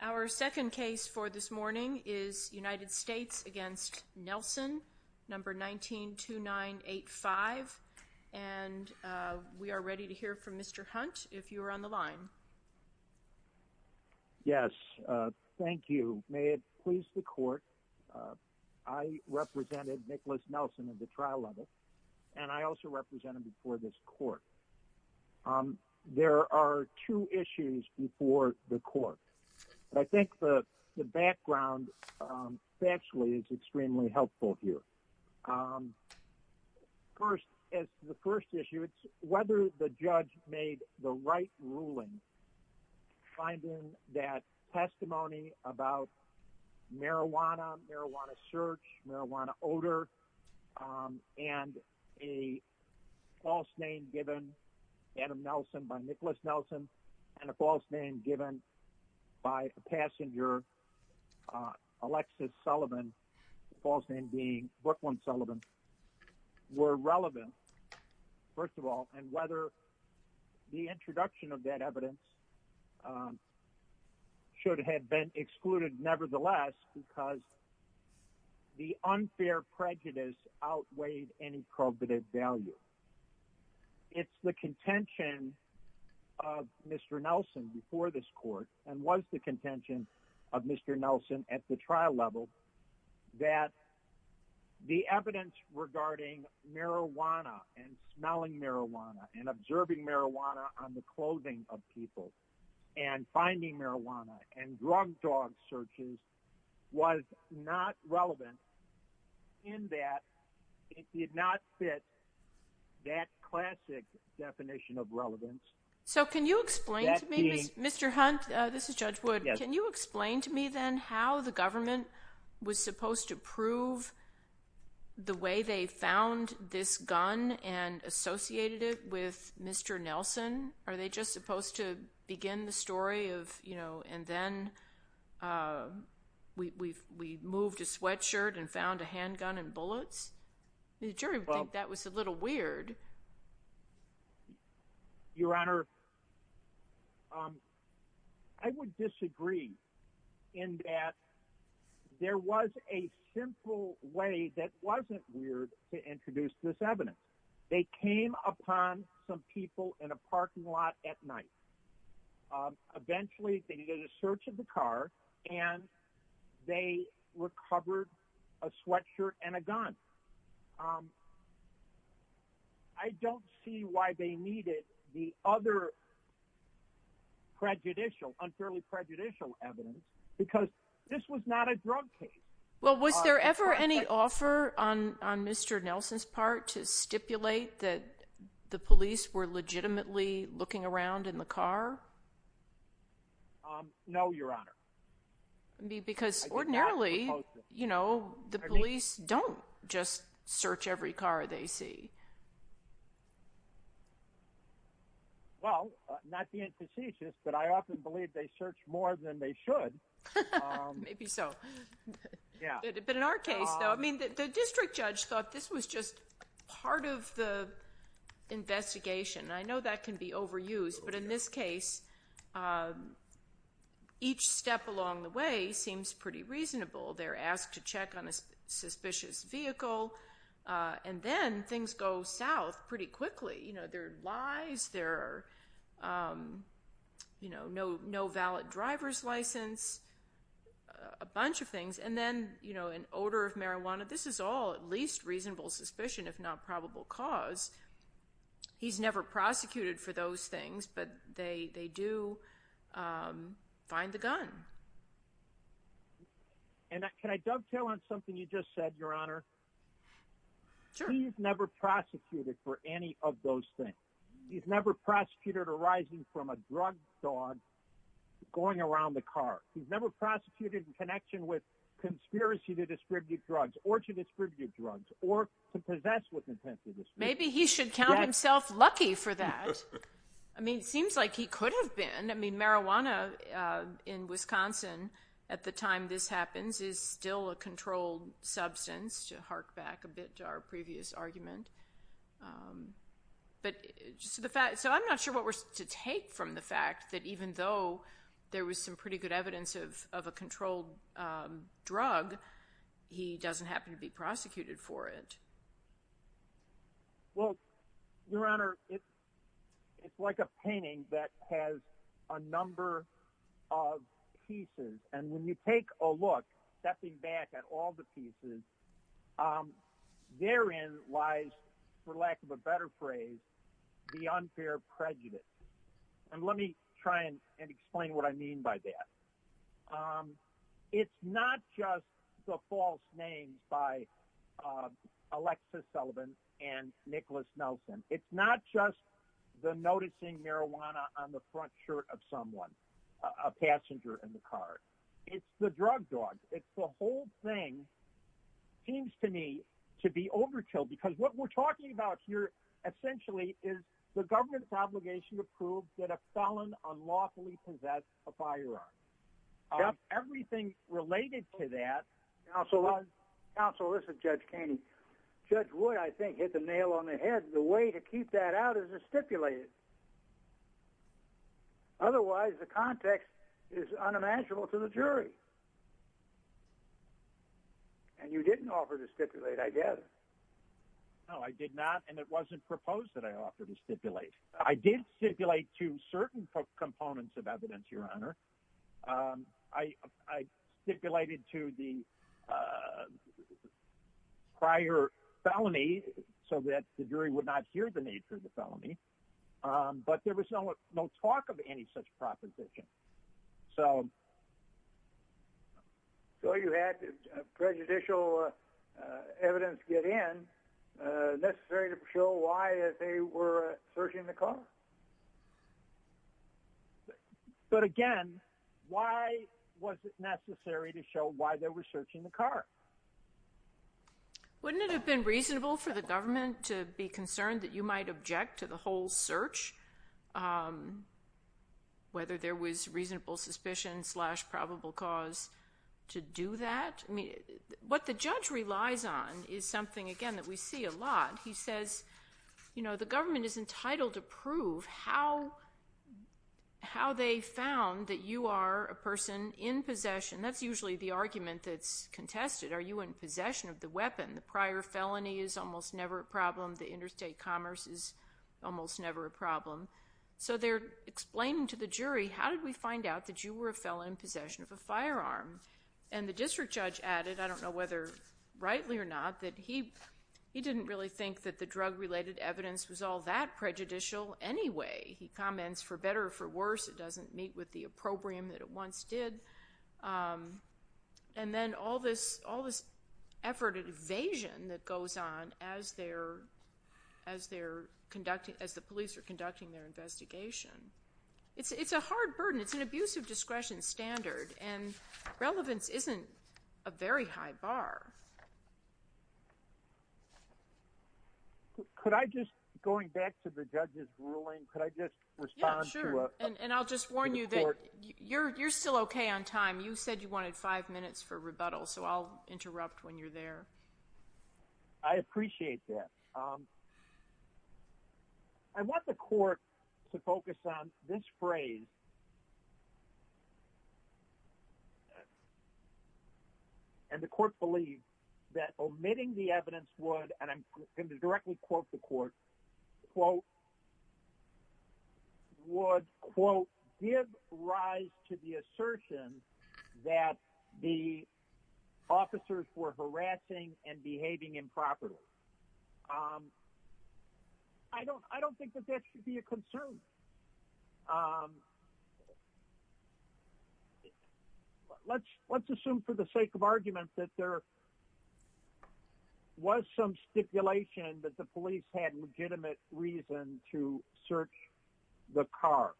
Our second case for this morning is United States v. Nelson, 192985. We are ready to hear from Mr. Hunt if you are on the line. Yes, thank you. May it please the court, I represented Nicholas Nelson at the trial level and I also represented him before this court. Um, there are two issues before the court. But I think the background actually is extremely helpful here. First, as the first issue, it's whether the judge made the right ruling, finding that testimony about marijuana, marijuana search, marijuana odor, um, and a false name given, Adam Nelson by Nicholas Nelson, and a false name given by a passenger, Alexis Sullivan, false name being Brooklyn Sullivan, were relevant. First of all, and whether the introduction of that evidence um, should have been excluded, nevertheless, because the unfair prejudice outweighed any probative value. It's the contention of Mr. Nelson before this court, and was the contention of Mr. Nelson at the trial level, that the evidence regarding marijuana and smelling marijuana and observing marijuana on the clothing of people and finding marijuana and drug dog searches was not relevant in that it did not fit that classic definition of relevance. So can you explain to me, Mr. Hunt, this is Judge Wood, can you explain to me then how the government was supposed to prove the way they found this gun and associated it with Mr. Nelson? Are they just supposed to begin the story of, you know, and then, uh, we moved a sweatshirt and found a handgun and bullets? The jury would think that was a little weird. Your Honor, um, I would disagree in that there was a simple way that wasn't weird to introduce this evidence. They came upon some people in a parking lot at night. Eventually, they did a search of the car and they recovered a sweatshirt and a gun. I don't see why they needed the other prejudicial, unfairly prejudicial evidence because this was not a drug case. Well, was there ever any offer on Mr. Nelson's part to stipulate that the police were legitimately looking around in the car? Um, no, Your Honor. Because ordinarily, you know, the police don't just search every car they see. Well, not being facetious, but I often believe they search more than they should. Maybe so. But in our case, though, I mean, the district judge thought this was just part of the investigation. I know that can be overused, but in this case, each step along the way seems pretty reasonable. They're asked to check on a suspicious vehicle, and then things go south pretty quickly. You know, there are lies, there are, you know, no valid driver's license, a bunch of things, and then, you know, an odor of marijuana. This is all at least reasonable suspicion, if not probable cause. He's never prosecuted for those things, but they do find the gun. And can I dovetail on something you just said, Your Honor? Sure. He's never prosecuted for any of those things. He's never prosecuted arising from a drug dog going around the car. He's never prosecuted in connection with distributive drugs or to possess with intent to distribute. Maybe he should count himself lucky for that. I mean, it seems like he could have been. I mean, marijuana in Wisconsin at the time this happens is still a controlled substance, to hark back a bit to our previous argument. So I'm not sure what we're to take from the fact that even though there was some pretty good evidence of a controlled drug, he doesn't happen to be prosecuted for it. Well, Your Honor, it's like a painting that has a number of pieces. And when you take a look, stepping back at all the pieces, therein lies, for lack of a better phrase, the unfair prejudice. And let me try and explain what I mean by that. It's not just the false names by Alexis Sullivan and Nicholas Nelson. It's not just the noticing marijuana on the front shirt of someone, a passenger in the car. It's the drug dogs. It's the whole thing seems to me to be proved that a felon unlawfully possess a firearm. Everything related to that. Counsel, this is Judge Kainey. Judge Wood, I think, hit the nail on the head. The way to keep that out is to stipulate it. Otherwise, the context is unimaginable to the jury. And you didn't offer to stipulate, I guess. No, I did not. And it wasn't proposed that I offered to stipulate. I did stipulate to certain components of evidence, Your Honor. I stipulated to the prior felony so that the jury would not hear the nature of the felony. But there was no talk of any such proposition. So you had prejudicial evidence get in necessary to show why they were searching the car? But again, why was it necessary to show why they were searching the car? Wouldn't it have been reasonable for the government to be concerned that you might object to the whole search? Whether there was reasonable suspicion slash probable cause to do that? I mean, what the judge relies on is something, again, that we see a lot. He says, you know, the government is entitled to prove how they found that you are a person in possession. That's usually the argument that's contested. Are you in possession of the weapon? The prior felony is almost never a problem. The interstate commerce is almost never a problem. So they're explaining to the jury, how did we find out that you were a felon in possession of a firearm? And the district judge added, I don't know whether rightly or not, that he didn't really think that the drug-related evidence was all that prejudicial anyway. He comments, for better or for worse, it doesn't meet with the opprobrium that it once did. And then all this effort at evasion that goes on as the police are conducting their investigation. It's a hard burden. It's an abuse of discretion standard, and relevance isn't a very high bar. Could I just, going back to the judge's ruling, could I just respond to it? And I'll just warn you that you're still okay on time. You said you wanted five minutes for rebuttal. So I'll interrupt when you're there. I appreciate that. I want the court to focus on this phrase. And the court believes that omitting the evidence would, and I'm going to directly quote the court, quote, would, quote, give rise to the assertion that the officers were harassing and behaving improperly. I don't think that that should be a concern. Let's assume for the sake of argument that there was some stipulation that the police had legitimate reason to search the car.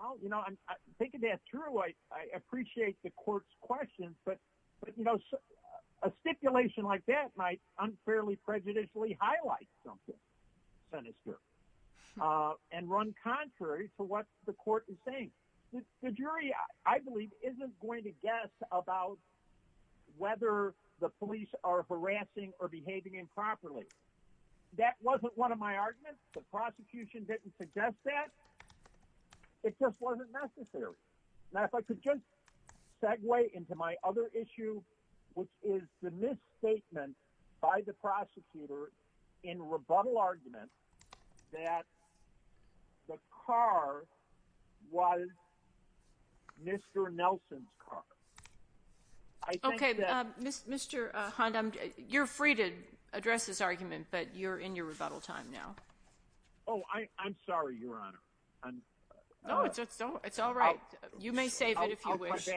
Well, you know, I'm thinking that through. I appreciate the court's questions. But, you know, a stipulation like that might unfairly prejudicially highlight something, Senator, and run contrary to what the court is saying. The jury, I believe, isn't going to guess about whether the police are harassing or behaving improperly. That wasn't one of my arguments. The prosecution didn't suggest that. It just wasn't necessary. Now, if I could just segue into my issue, which is the misstatement by the prosecutor in rebuttal argument that the car was Mr. Nelson's car. Okay, Mr. Hunt, you're free to address this argument, but you're in your rebuttal time now. Oh, I'm sorry, Your Honor. No, it's all right. You may save it if you wish.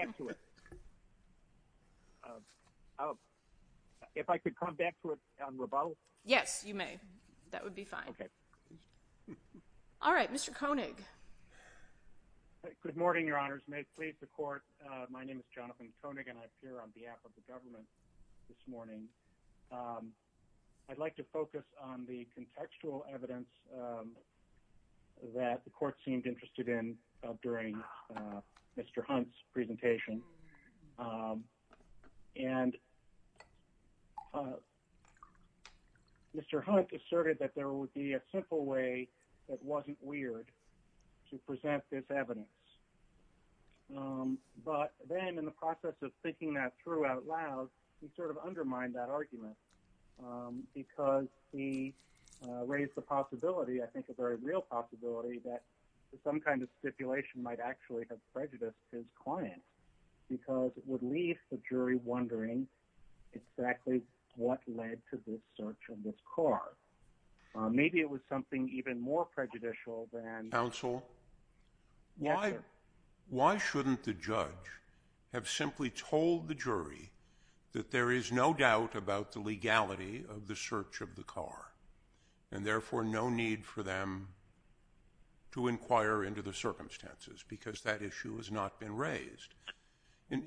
Oh, if I could come back to it on rebuttal. Yes, you may. That would be fine. Okay. All right, Mr. Koenig. Good morning, Your Honors. May it please the court. My name is Jonathan Koenig and I appear on behalf of the government this morning. I'd like to focus on the contextual evidence that the court seemed interested in during Mr. Hunt's presentation. And Mr. Hunt asserted that there would be a simple way that wasn't weird to present this evidence. But then in the process of thinking that through out loud, he sort of undermined that argument because he raised the possibility, I think a very real possibility, that some kind of stipulation might actually have prejudiced his client because it would leave the jury wondering exactly what led to this search of this car. Maybe it was something even more prejudicial than... Counsel, why shouldn't the judge have simply told the jury that there is no doubt about the because that issue has not been raised.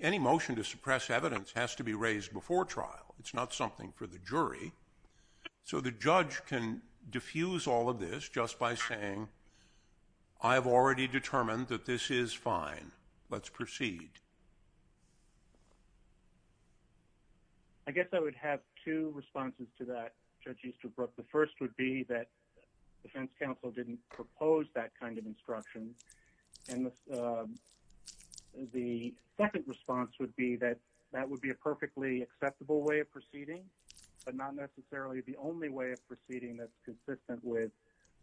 Any motion to suppress evidence has to be raised before trial. It's not something for the jury. So the judge can diffuse all of this just by saying, I've already determined that this is fine. Let's proceed. I guess I would have two responses to that, Judge Easterbrook. The first would be that defense counsel didn't propose that kind of instruction. And the second response would be that that would be a perfectly acceptable way of proceeding, but not necessarily the only way of proceeding that's consistent with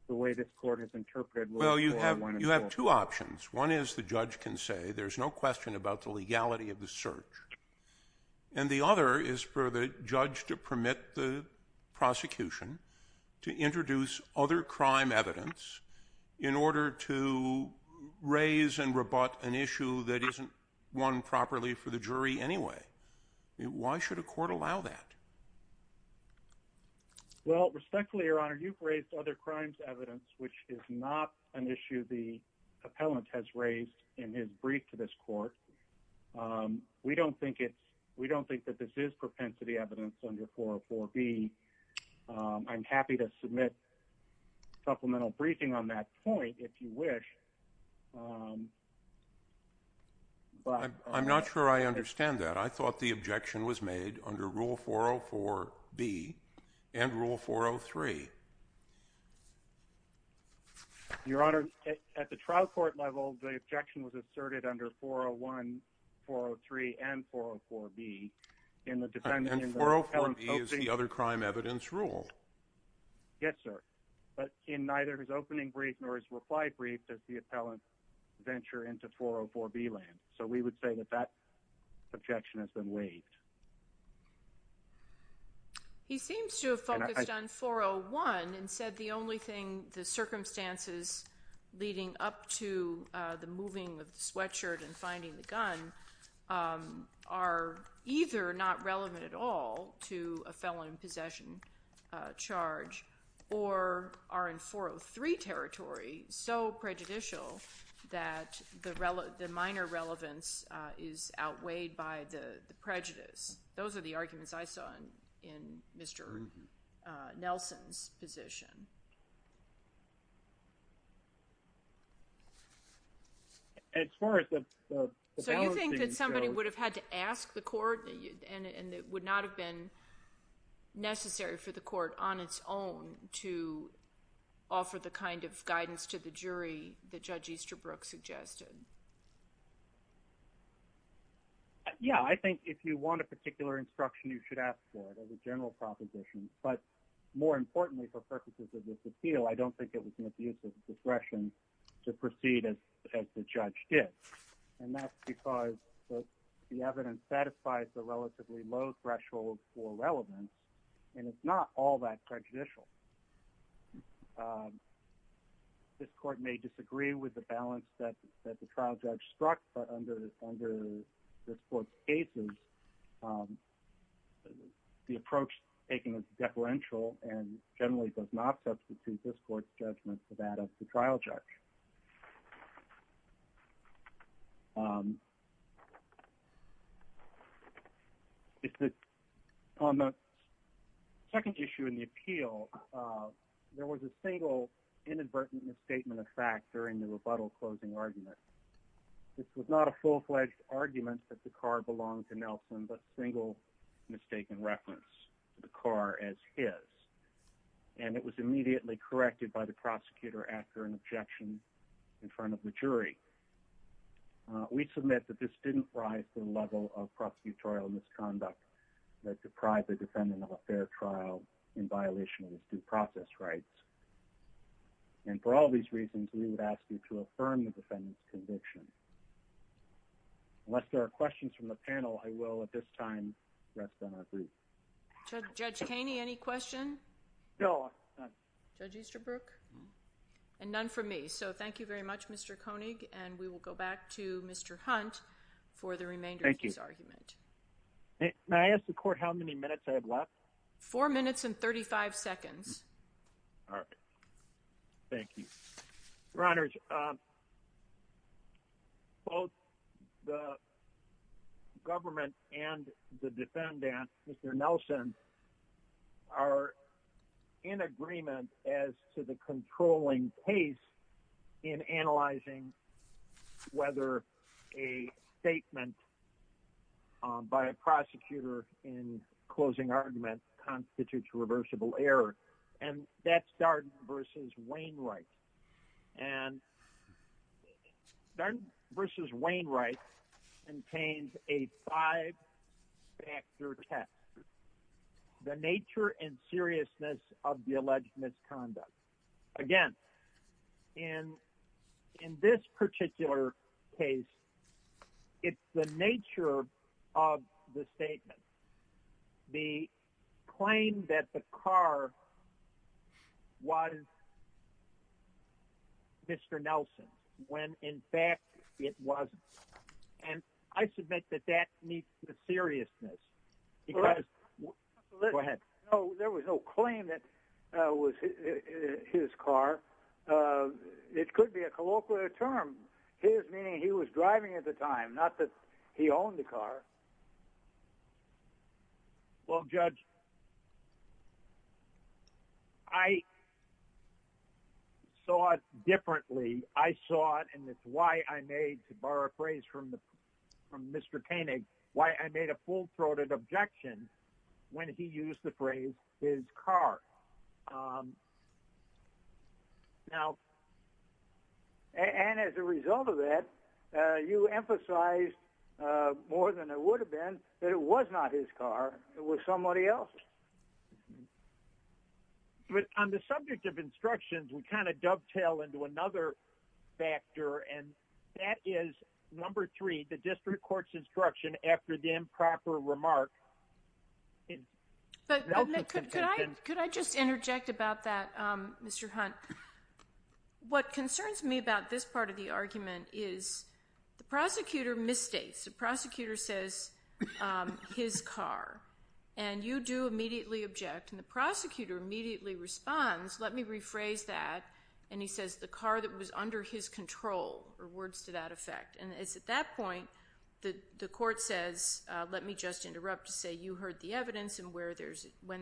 the way this court has interpreted. Well, you have two options. One is the judge can say there's no question about the legality of the search. And the other is for the judge to permit the prosecution to introduce other crime evidence in order to raise and rebut an issue that isn't won properly for the jury anyway. Why should a court allow that? Well, respectfully, Your Honor, you've raised other crimes evidence, which is not an issue the appellant has raised in his brief to this court. We don't think that this propensity evidence under 404B. I'm happy to submit supplemental briefing on that point, if you wish. I'm not sure I understand that. I thought the objection was made under Rule 404B and Rule 403. Your Honor, at the trial court level, the objection was asserted under 401, 403, and 404B. And 404B is the other crime evidence rule? Yes, sir. But in neither his opening brief nor his reply brief does the appellant venture into 404B land. So we would say that that objection has been waived. He seems to have focused on 401 and said the only thing, the circumstances leading up to the moving of the sweatshirt and finding the gun are either not relevant at all to a felon in possession charge or are in 403 territory, so prejudicial that the minor relevance is outweighed by the prejudice. Those are the two things. So you think that somebody would have had to ask the court and it would not have been necessary for the court on its own to offer the kind of guidance to the jury that Judge Easterbrook suggested? Yeah, I think if you want a particular instruction, you should ask for it as a general proposition. But more importantly, for purposes of this appeal, I don't think it was misuse of discretion to proceed as the judge did. And that's because the evidence satisfies the relatively low threshold for relevance. And it's not all that prejudicial. This court may disagree with the balance that the trial judge struck, but under this court's cases, the approach taken is deferential and generally does not substitute this court's judgment for that of the trial judge. On the second issue in the appeal, there was a single inadvertent misstatement of fact during the rebuttal closing argument. This was not a full-fledged argument that the car belonged to Nelson, but a single mistaken reference to the car as his. And it was immediately corrected by the prosecutor after an objection in front of the jury. We submit that this didn't rise to the level of prosecutorial misconduct that deprived a defendant of a fair trial in violation of his due process rights. And for all these reasons, we would ask you to I will at this time rest on our brief. Judge Kainey, any questions? No, none. Judge Easterbrook? And none from me. So thank you very much Mr. Koenig. And we will go back to Mr. Hunt for the remainder of this argument. Thank you. May I ask the court how many minutes I have left? Four minutes and 35 seconds. All right. Thank you. Your Honors, Judge, both the government and the defendant, Mr. Nelson, are in agreement as to the controlling case in analyzing whether a statement by a prosecutor in closing argument constitutes reversible error. And that's Darden v. Wainwright. And Darden v. Wainwright contains a five-factor test. The nature and seriousness of the alleged misconduct. Again, in this particular case, it's the nature of the statement. The claim that the car was Mr. Nelson, when in fact it wasn't. And I submit that that meets the seriousness. Go ahead. There was no claim that it was his car. It could be a colloquial term, his meaning he was driving at the time, not that he owned the car. Well, Judge, I saw it differently. I saw it and that's why I made, to borrow a phrase from Mr. Koenig, why I made a full-throated objection when he used the phrase his car. And as a result of that, you emphasized more than it would have been that it was not his car, it was somebody else. But on the subject of instructions, we kind of dovetail into another factor. And that is number three, the district court's instruction after the improper remark. But could I just interject about that, Mr. Hunt? What concerns me about this part of the argument is the prosecutor misstates. The prosecutor says his car. And you do immediately object. And the prosecutor immediately responds, let me rephrase that. And he says the car that was under his evidence. And when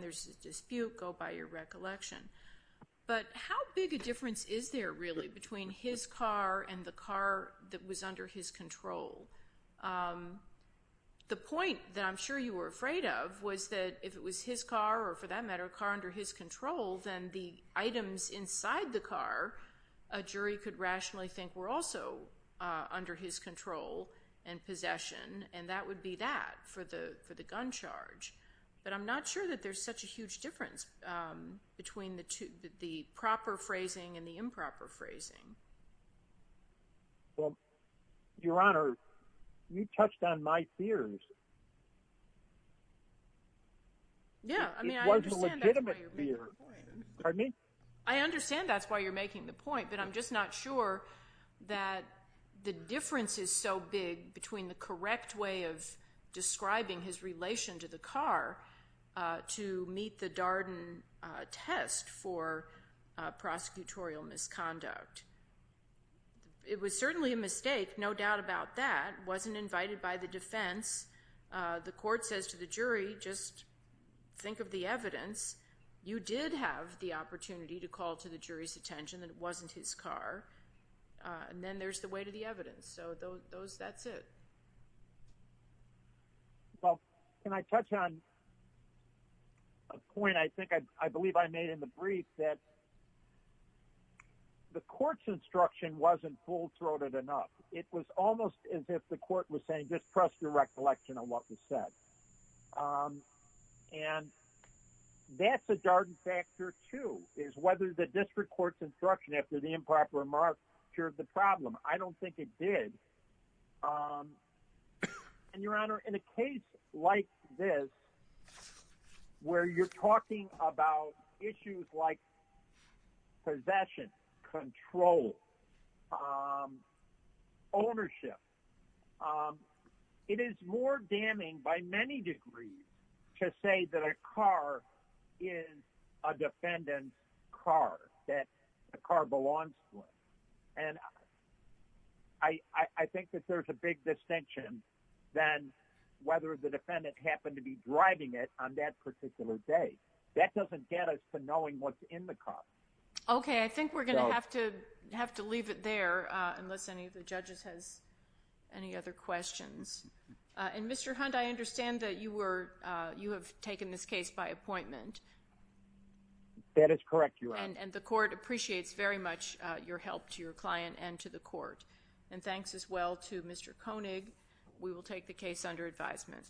there's a dispute, go by your recollection. But how big a difference is there really between his car and the car that was under his control? The point that I'm sure you were afraid of was that if it was his car, or for that matter, a car under his control, then the items inside the car, a jury could rationally think were also under his control and possession. And that would be that for the gun charge. But I'm not sure that there's such a huge difference between the proper phrasing and the improper phrasing. Well, Your Honor, you touched on my fears. Yeah, I mean, I understand that's why you're making the point. But I'm just not sure that the difference is so big between the correct way of describing his relation to the car to meet the Darden test for prosecutorial misconduct. It was certainly a mistake, no doubt about that. Wasn't invited by the defense. The court says to the jury, just think of the evidence. You did have the opportunity to call to the jury's attention that it wasn't his car. And then there's the way to the evidence. So those that's it. Well, can I touch on a point I think I believe I made in the brief that the court's instruction wasn't full throated enough. It was almost as if the court was saying just trust your recollection on what was said. And that's a Darden factor too, is whether the improper remarks cured the problem. I don't think it did. And Your Honor, in a case like this, where you're talking about issues like possession, control, ownership, it is more damning by many degrees to say that a car is a defendant's car, that the car belongs to him. And I think that there's a big distinction than whether the defendant happened to be driving it on that particular day. That doesn't get us to knowing what's in the car. Okay. I think we're going to have to leave it there unless any of the judges has any other questions. And Mr. Hunt, I understand that you have taken this case by appointment. That is correct, Your Honor. And the court appreciates very much your help to your client and to the court. And thanks as well to Mr. Koenig. We will take the case under advisement.